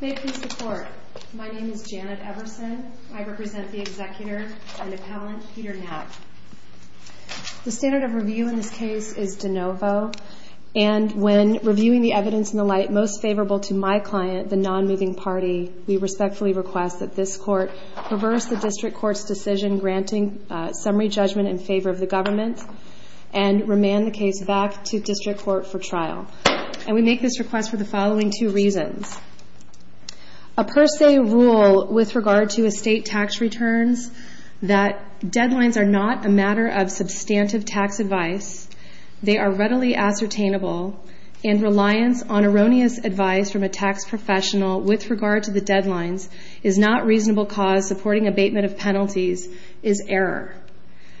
May it please the court, my name is Janet Everson. I represent the executor and appellant Peter Knappe. The standard of review in this case is de novo and when reviewing the evidence in the light most favorable to my client, the non-moving party, we respectfully request that this court reverse the district court's decision granting summary judgment in favor of the government and remand the case back to district court for trial. And we make this request for the following two reasons. A per se rule with regard to estate tax returns that deadlines are not a matter of substantive tax advice, they are readily ascertainable, and reliance on erroneous advice from a tax professional with regard to the deadlines is not reasonable cause supporting abatement of penalties is error.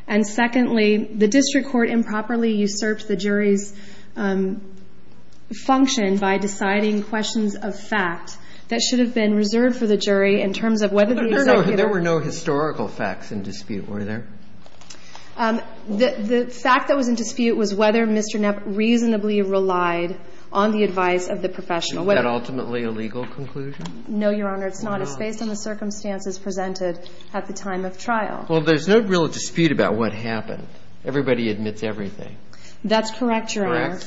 And secondly, the district court improperly usurped the jury's function by deciding questions of fact that should have been reserved for the jury in terms of whether the executor. There were no historical facts in dispute, were there? The fact that was in dispute was whether Mr. Knappe reasonably relied on the advice of the professional. Was that ultimately a legal conclusion? No, Your Honor. It's not. It's based on the circumstances presented at the time of trial. Well, there's no real dispute about what happened. Everybody admits everything. That's correct, Your Honor. Correct.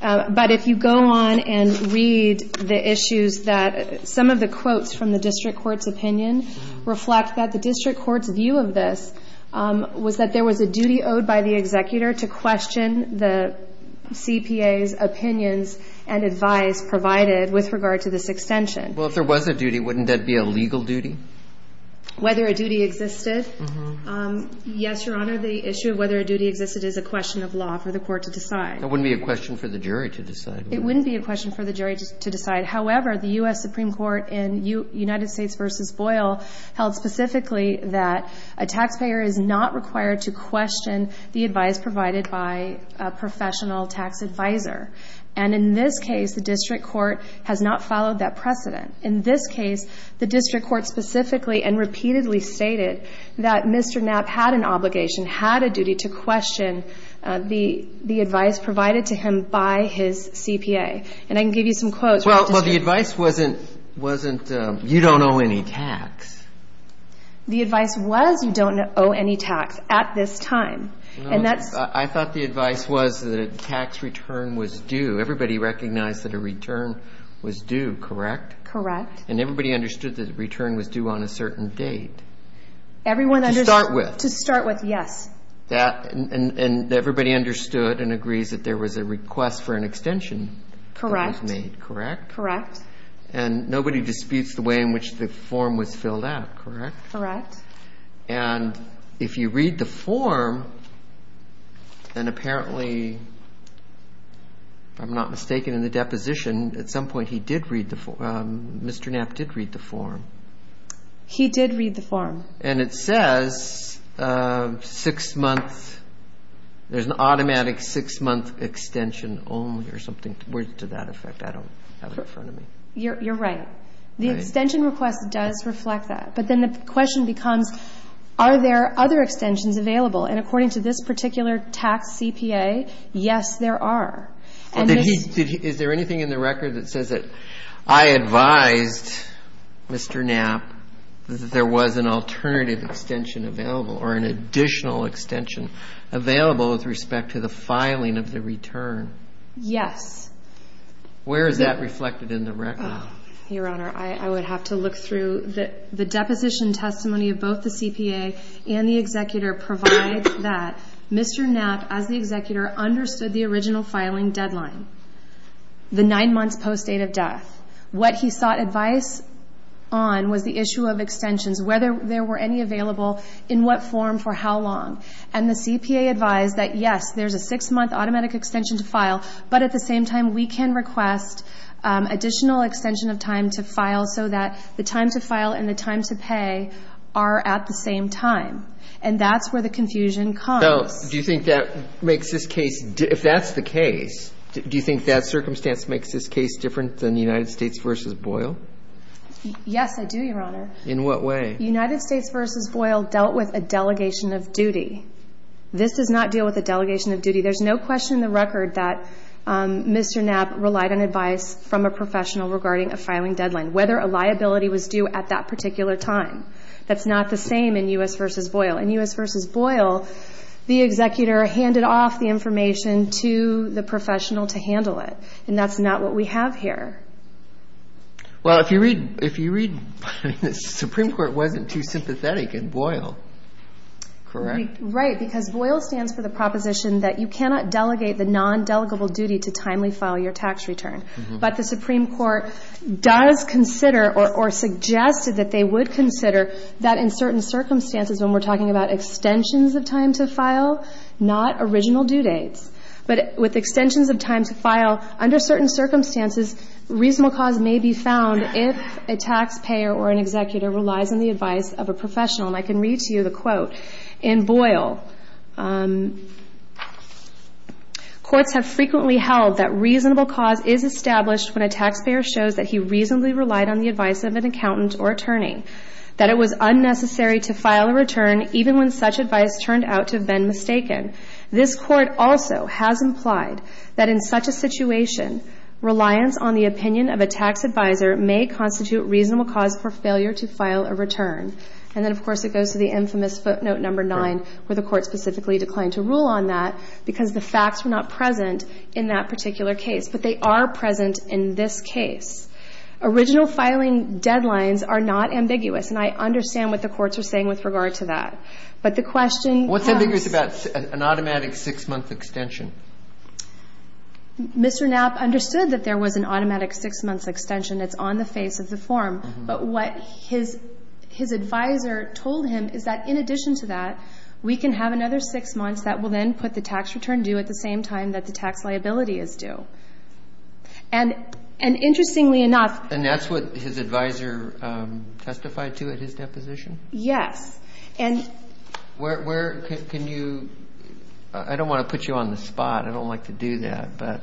But if you go on and read the issues that some of the quotes from the district court's opinion reflect that the district court's view of this was that there was a duty owed by the executor to question the CPA's opinions and advice provided with regard to this extension. Well, if there was a duty, wouldn't that be a legal duty? Whether a duty existed? Yes, Your Honor. The issue of whether a duty existed is a question of law for the court to decide. It wouldn't be a question for the jury to decide. It wouldn't be a question for the jury to decide. However, the U.S. Supreme Court in United States v. Boyle held specifically that a taxpayer is not required to question the advice provided by a professional tax advisor. And in this case, the district court has not followed that precedent. In this case, the district court specifically and repeatedly stated that Mr. Knapp had an obligation, had a duty to question the advice provided to him by his CPA. And I can give you some quotes. Well, the advice wasn't you don't owe any tax. The advice was you don't owe any tax at this time. I thought the advice was that a tax return was due. Everybody recognized that a return was due, correct? Correct. And everybody understood that a return was due on a certain date. Everyone understood. To start with. To start with, yes. And everybody understood and agrees that there was a request for an extension that was made, correct? Correct. And nobody disputes the way in which the form was filled out, correct? Correct. And if you read the form, then apparently, if I'm not mistaken in the deposition, at some point he did read the form. Mr. Knapp did read the form. He did read the form. And it says six months. There's an automatic six-month extension only or something to that effect. I don't have it in front of me. You're right. The extension request does reflect that. But then the question becomes, are there other extensions available? And according to this particular tax CPA, yes, there are. Is there anything in the record that says that I advised Mr. Knapp that there was an alternative extension available or an additional extension available with respect to the filing of the return? Yes. Where is that reflected in the record? Your Honor, I would have to look through. The deposition testimony of both the CPA and the executor provides that Mr. Knapp, as the executor, understood the original filing deadline, the nine months post date of death. What he sought advice on was the issue of extensions, whether there were any available, in what form, for how long. And the CPA advised that, yes, there's a six-month automatic extension to file, but at the same time, we can request additional extension of time to file so that the time to file and the time to pay are at the same time. And that's where the confusion comes. So do you think that makes this case, if that's the case, do you think that circumstance makes this case different than United States v. Boyle? Yes, I do, Your Honor. In what way? United States v. Boyle dealt with a delegation of duty. This does not deal with a delegation of duty. There's no question in the record that Mr. Knapp relied on advice from a professional regarding a filing deadline, whether a liability was due at that particular time. That's not the same in U.S. v. Boyle. In U.S. v. Boyle, the executor handed off the information to the professional to handle it. And that's not what we have here. Well, if you read the Supreme Court wasn't too sympathetic in Boyle, correct? Right, because Boyle stands for the proposition that you cannot delegate the non-delegable duty to timely file your tax return. But the Supreme Court does consider or suggested that they would consider that in certain circumstances when we're talking about extensions of time to file, not original due dates, but with extensions of time to file under certain circumstances, reasonable cause may be found if a taxpayer or an executor relies on the advice of a professional. And I can read to you the quote. In Boyle, courts have frequently held that reasonable cause is established when a taxpayer shows that he reasonably relied on the advice of an accountant or attorney, that it was unnecessary to file a return even when such advice turned out to have been mistaken. This court also has implied that in such a situation, reliance on the opinion of a tax advisor may constitute reasonable cause for failure to file a return. And then, of course, it goes to the infamous footnote number 9, where the court specifically declined to rule on that because the facts were not present in that particular case. But they are present in this case. Original filing deadlines are not ambiguous, and I understand what the courts are saying But the question has to do with the fact that the court has not ruled on that. What's ambiguous about an automatic six-month extension? Mr. Knapp understood that there was an automatic six-month extension. It's on the face of the form. But what his advisor told him is that in addition to that, we can have another six months that will then put the tax return due at the same time that the tax liability is due. And interestingly enough And that's what his advisor testified to at his deposition? Yes. And Where can you – I don't want to put you on the spot. I don't like to do that. But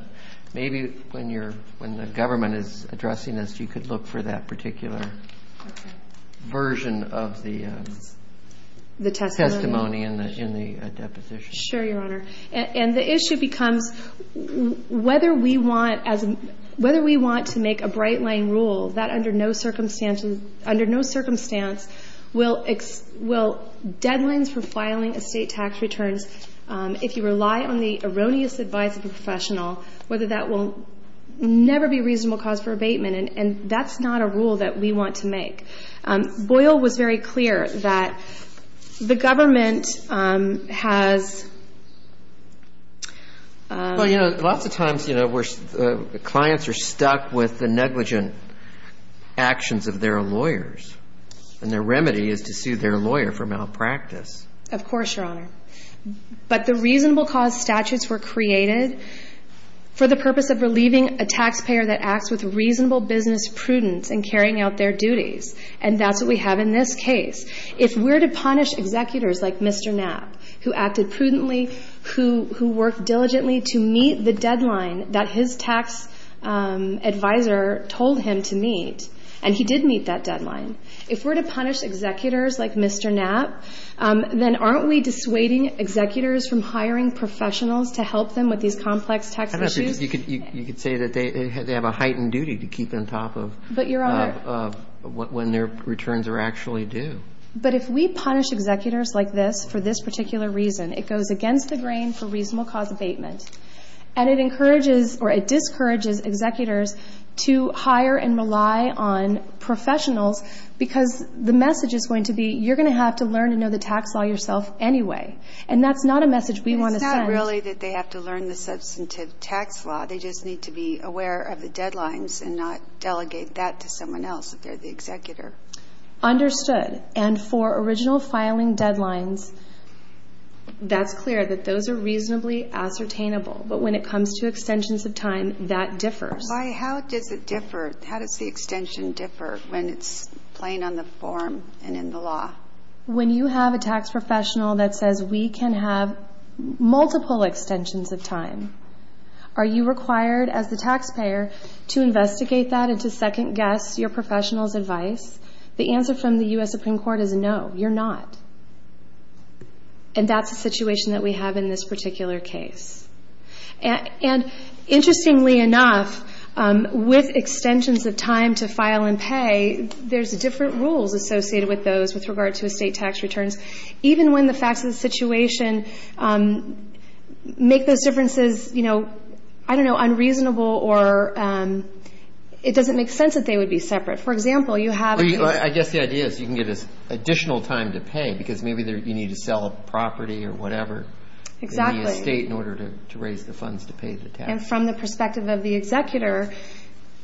maybe when the government is addressing this, you could look for that particular version of the testimony in the deposition. Sure, Your Honor. And the issue becomes whether we want to make a bright-line rule that under no circumstances – under no circumstance will deadlines for filing estate tax returns, if you rely on the erroneous advice of a professional, whether that will never be a reasonable cause for abatement. And that's not a rule that we want to make. Boyle was very clear that the government has Well, you know, lots of times, you know, clients are stuck with the negligent actions of their lawyers. And their remedy is to sue their lawyer for malpractice. Of course, Your Honor. But the reasonable cause statutes were created for the purpose of relieving a taxpayer that acts with reasonable business prudence in carrying out their duties. And that's what we have in this case. If we're to punish executors like Mr. Knapp, who acted prudently, who worked diligently to meet the deadline that his tax advisor told him to meet, and he did meet that deadline, if we're to punish executors like Mr. Knapp, then aren't we dissuading executors from hiring professionals to help them with these complex tax issues? I don't know if you could say that they have a heightened duty to keep on top of But, Your Honor when their returns are actually due. But if we punish executors like this for this particular reason, it goes against the grain for reasonable cause abatement. And it encourages or it discourages executors to hire and rely on professionals because the message is going to be you're going to have to learn to know the tax law yourself anyway. And that's not a message we want to send. It's not really that they have to learn the substantive tax law. They just need to be aware of the deadlines and not delegate that to someone else if they're the executor. Understood. And for original filing deadlines, that's clear that those are reasonably ascertainable. But when it comes to extensions of time, that differs. Why? How does it differ? How does the extension differ when it's plain on the form and in the law? When you have a tax professional that says we can have multiple extensions of time, are you required as the taxpayer to investigate that and to second-guess your professional's advice? The answer from the U.S. Supreme Court is no, you're not. And that's the situation that we have in this particular case. And interestingly enough, with extensions of time to file and pay, there's different rules associated with those with regard to estate tax returns. Even when the facts of the situation make those differences, you know, I don't know, unreasonable or it doesn't make sense that they would be separate. For example, you have I guess the idea is you can get additional time to pay because maybe you need to sell a property or whatever in the estate in order to raise the funds to pay the tax. And from the perspective of the executor,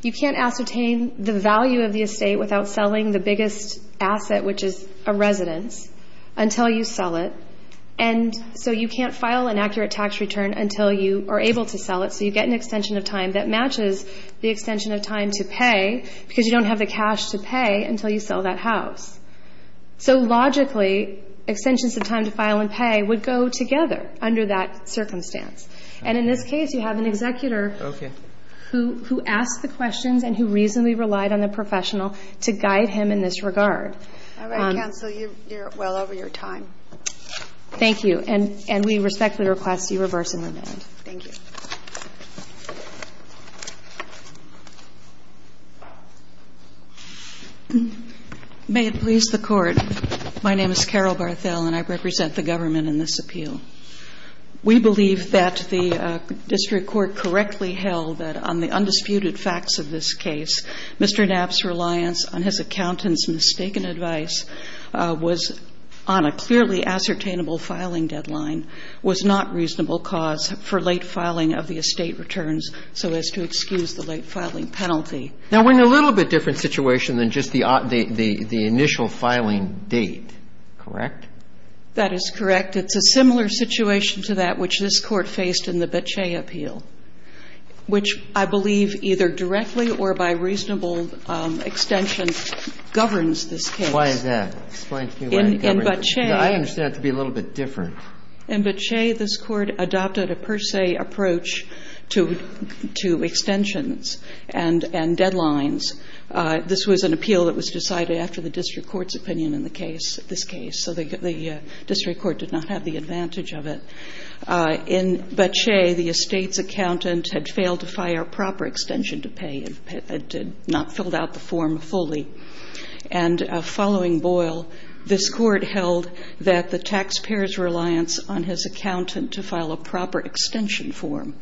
you can't ascertain the value of the estate without selling the biggest asset, which is a residence, until you sell it. And so you can't file an accurate tax return until you are able to sell it. So you get an extension of time that matches the extension of time to pay because you don't have the cash to pay until you sell that house. So logically, extensions of time to file and pay would go together under that circumstance. And in this case, you have an executor who asked the questions and who reasonably relied on the professional to guide him in this regard. All right, counsel. You're well over your time. Thank you. And we respectfully request you reverse and remand. Thank you. May it please the Court. My name is Carol Barthel, and I represent the government in this appeal. We believe that the district court correctly held that on the undisputed facts of this case, Mr. Knapp's reliance on his accountant's mistaken advice was on a clearly ascertainable And we believe that the reason for the late filing deadline was not reasonable cause for late filing of the estate returns so as to excuse the late filing penalty. Now, we're in a little bit different situation than just the initial filing date, correct? That is correct. It's a similar situation to that which this Court faced in the Bache appeal, which I believe either directly or by reasonable extension governs this case. Why is that? Explain to me why it governs. In Bache. I understand it to be a little bit different. In Bache, this Court adopted a per se approach to extensions and deadlines. This was an appeal that was decided after the district court's opinion in the case, this case. So the district court did not have the advantage of it. In Bache, the estate's accountant had failed to file a proper extension to pay and had not filled out the form fully. And following Boyle, this Court held that the taxpayer's reliance on his accountant to file a proper extension form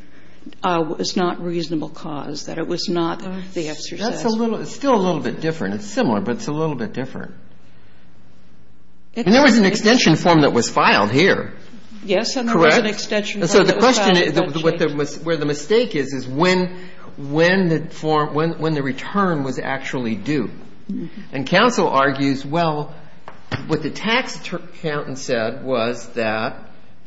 was not reasonable cause, that it was not the exercise. That's still a little bit different. It's similar, but it's a little bit different. And there was an extension form that was filed here. Yes, and there was an extension form that was filed in Bache. So the question is where the mistake is, is when the form, when the return was actually due. And counsel argues, well, what the tax accountant said was that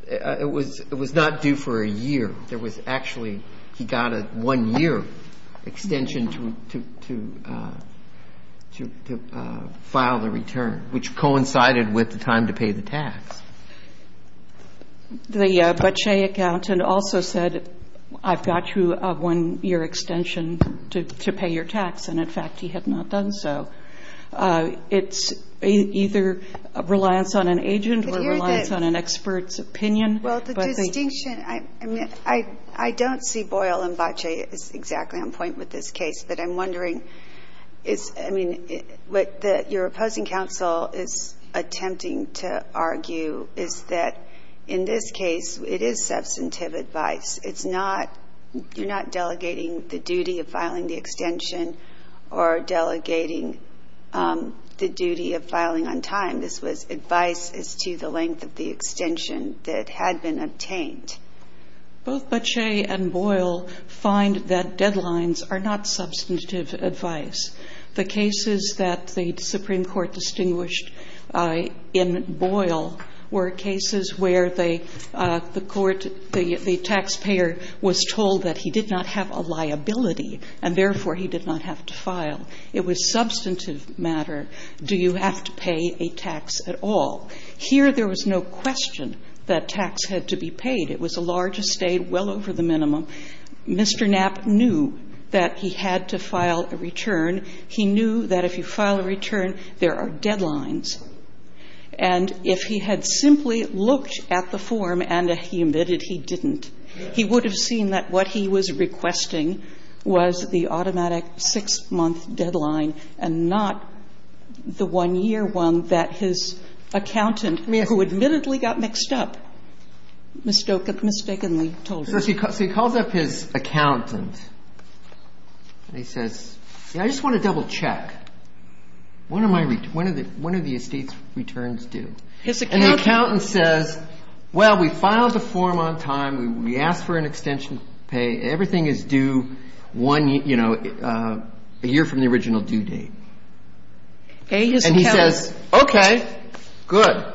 it was not due for a year. There was actually, he got a one-year extension to file the return, which coincided with the time to pay the tax. The Bache accountant also said, I've got you a one-year extension to pay your tax. And, in fact, he had not done so. It's either reliance on an agent or reliance on an expert's opinion. Well, the distinction, I don't see Boyle and Bache is exactly on point with this case. But I'm wondering, I mean, what your opposing counsel is attempting to argue is that, in this case, it is substantive advice. It's not, you're not delegating the duty of filing the extension or delegating the duty of filing on time. This was advice as to the length of the extension that had been obtained. Both Bache and Boyle find that deadlines are not substantive advice. The cases that the Supreme Court distinguished in Boyle were cases where the court, the taxpayer was told that he did not have a liability and, therefore, he did not have to file. It was substantive matter. Do you have to pay a tax at all? It was a large estate. It was a large estate, well over the minimum. Mr. Knapp knew that he had to file a return. He knew that if you file a return, there are deadlines. And if he had simply looked at the form and admitted he didn't, he would have seen that what he was requesting was the automatic six-month deadline and not the one-year one that his accountant, who admittedly got mixed up, mistakenly told him. So he calls up his accountant and he says, you know, I just want to double-check. What are my returns? What are the estate's returns due? His accountant says, well, we filed the form on time. We asked for an extension to pay. Everything is due one, you know, a year from the original due date. And he says, okay, good.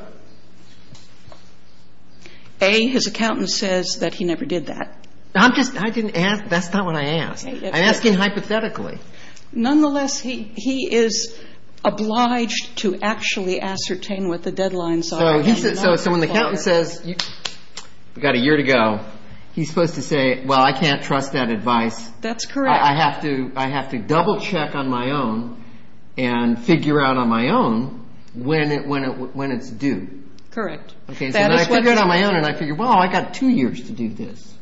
A, his accountant says that he never did that. I'm just ‑‑ I didn't ask. That's not what I asked. I'm asking hypothetically. Nonetheless, he is obliged to actually ascertain what the deadlines are. So when the accountant says, we've got a year to go, he's supposed to say, well, I can't trust that advice. That's correct. I have to double-check on my own and figure out on my own when it's due. Correct. Okay, so I figure it out on my own and I figure, well, I've got two years to do this.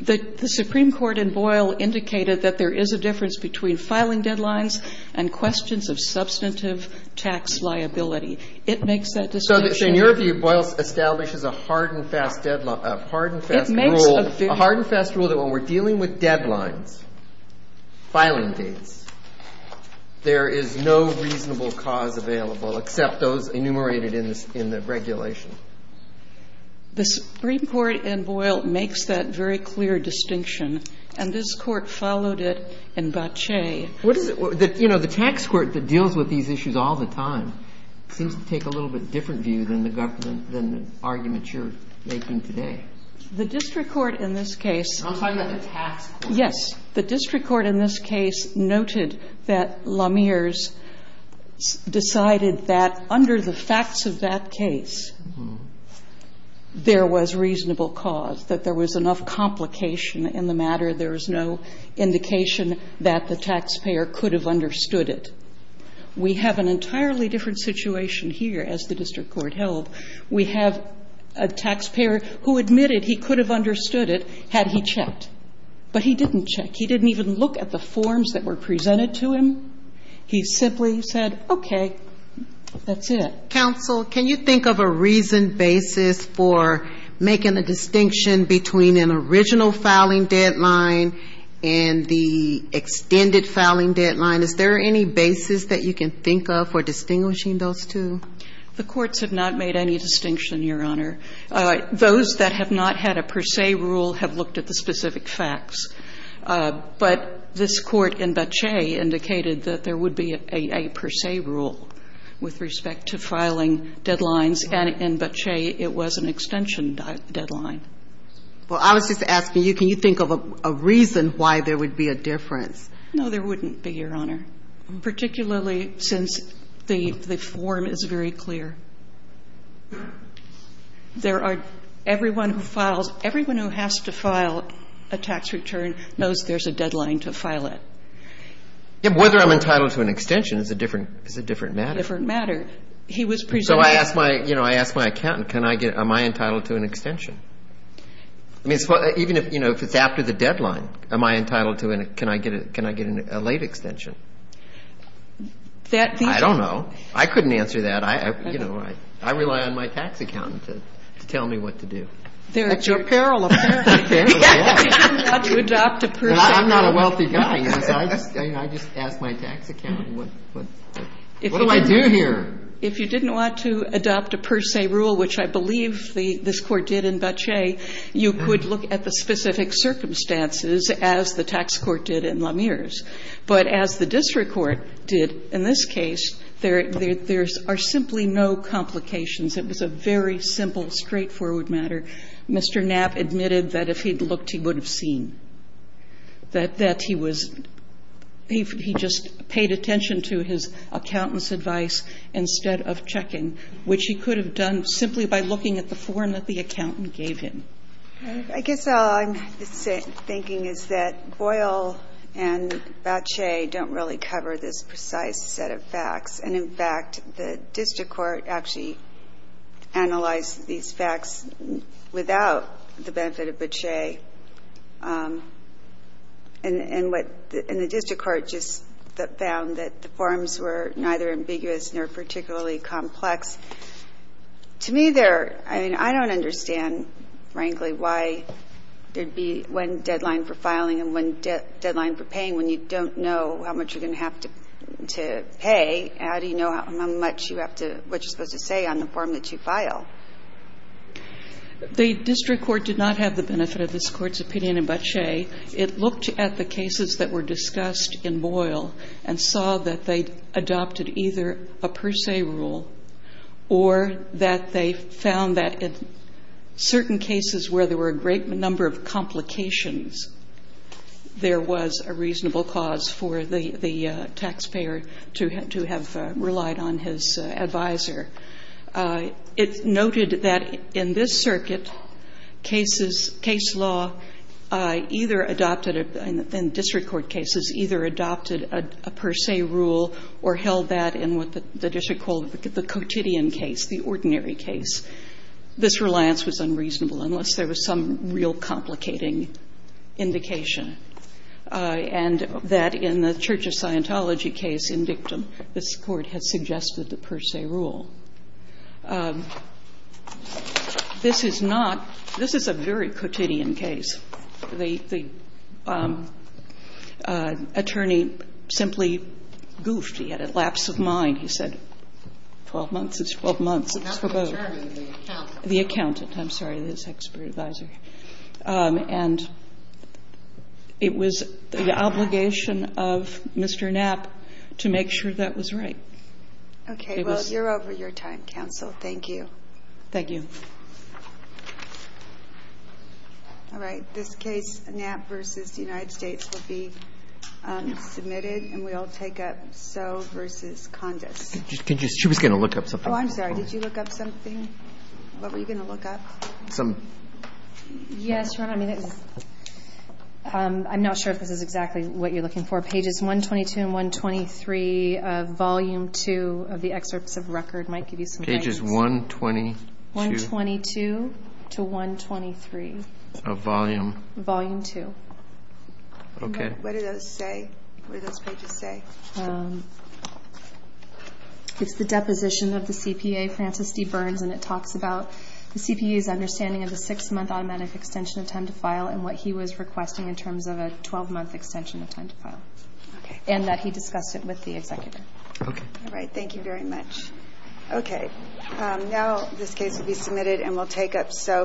The Supreme Court in Boyle indicated that there is a difference between filing deadlines and questions of substantive tax liability. It makes that distinction. So in your view, Boyle establishes a hard and fast rule. A hard and fast rule that when we're dealing with deadlines, filing dates, there is no reasonable cause available except those enumerated in the regulation. The Supreme Court in Boyle makes that very clear distinction. And this Court followed it in Bache. What is it? You know, the tax court that deals with these issues all the time seems to take a little bit different view than the argument you're making today. The district court in this case. I'm talking about the tax court. Yes. The district court in this case noted that LaMere's decided that under the facts of that case there was reasonable cause, that there was enough complication in the matter, there was no indication that the taxpayer could have understood it. We have an entirely different situation here, as the district court held. We have a taxpayer who admitted he could have understood it had he checked. But he didn't check. He didn't even look at the forms that were presented to him. He simply said, okay, that's it. Counsel, can you think of a reasoned basis for making the distinction between an original filing deadline and the extended filing deadline? Is there any basis that you can think of for distinguishing those two? The courts have not made any distinction, Your Honor. Those that have not had a per se rule have looked at the specific facts. But this Court in Boettcher indicated that there would be a per se rule with respect to filing deadlines, and in Boettcher it was an extension deadline. Well, I was just asking you, can you think of a reason why there would be a difference? No, there wouldn't be, Your Honor. There wouldn't be, Your Honor, particularly since the form is very clear. There are everyone who files, everyone who has to file a tax return knows there's a deadline to file it. Yeah, but whether I'm entitled to an extension is a different matter. It's a different matter. He was presenting that. So I asked my, you know, I asked my accountant, can I get, am I entitled to an extension? I mean, even if, you know, if it's after the deadline, am I entitled to an, can I get a late extension? That the ---- I don't know. I couldn't answer that. I, you know, I rely on my tax accountant to tell me what to do. At your peril, apparently. Apparently, yeah. If you didn't want to adopt a per se rule ---- I'm not a wealthy guy. I just asked my tax accountant, what do I do here? If you didn't want to adopt a per se rule, which I believe this Court did in Boettcher, you could look at the specific circumstances as the tax court did in LaMere's. But as the district court did in this case, there are simply no complications. It was a very simple, straightforward matter. Mr. Knapp admitted that if he'd looked, he would have seen, that he was ---- he just paid attention to his accountant's advice instead of checking, which he could have done simply by looking at the form that the accountant gave him. I guess all I'm thinking is that Boyle and Boettcher don't really cover this precise set of facts. And, in fact, the district court actually analyzed these facts without the benefit of Boettcher. And what the district court just found, that the forms were neither ambiguous nor particularly complex. To me, they're ---- I mean, I don't understand, frankly, why there'd be one deadline for filing and one deadline for paying when you don't know how much you're going to have to pay. How do you know how much you have to ---- what you're supposed to say on the form that you file? The district court did not have the benefit of this Court's opinion in Boettcher. It looked at the cases that were discussed in Boyle and saw that they adopted either a per se rule or that they found that in certain cases where there were a great number of complications, there was a reasonable cause for the taxpayer to have relied on his advisor. It noted that in this circuit, cases ---- case law either adopted a ---- in district court or did not adopt a per se rule. It noted that in what the district called the quotidian case, the ordinary case, this reliance was unreasonable unless there was some real complicating indication, and that in the Church of Scientology case in Dictum, this Court had suggested the per se rule. This is not ---- this is a very quotidian case. The attorney simply goofed. He had a lapse of mind. He said, 12 months is 12 months. It's for both. The accountant. I'm sorry. It is expert advisor. And it was the obligation of Mr. Knapp to make sure that was right. Okay. Well, you're over your time, counsel. Thank you. Thank you. All right. This case, Knapp v. United States, will be submitted. And we'll take up Soe v. Condis. She was going to look up something. Oh, I'm sorry. Did you look up something? What were you going to look up? Some ---- Yes, Your Honor. I mean, I'm not sure if this is exactly what you're looking for. Pages 122 and 123 of Volume 2 of the excerpts of record might give you some guidance. Pages 122. 122 to 123. Of Volume? Volume 2. Okay. What do those say? What do those pages say? It's the deposition of the CPA, Francis D. Burns, and it talks about the CPA's understanding of the six-month automatic extension of time to file and what he was requesting in terms of a 12-month extension of time to file. And that he discussed it with the executor. Okay. All right. Thank you very much. Okay. Now this case will be submitted and we'll take up Soe v. Condis.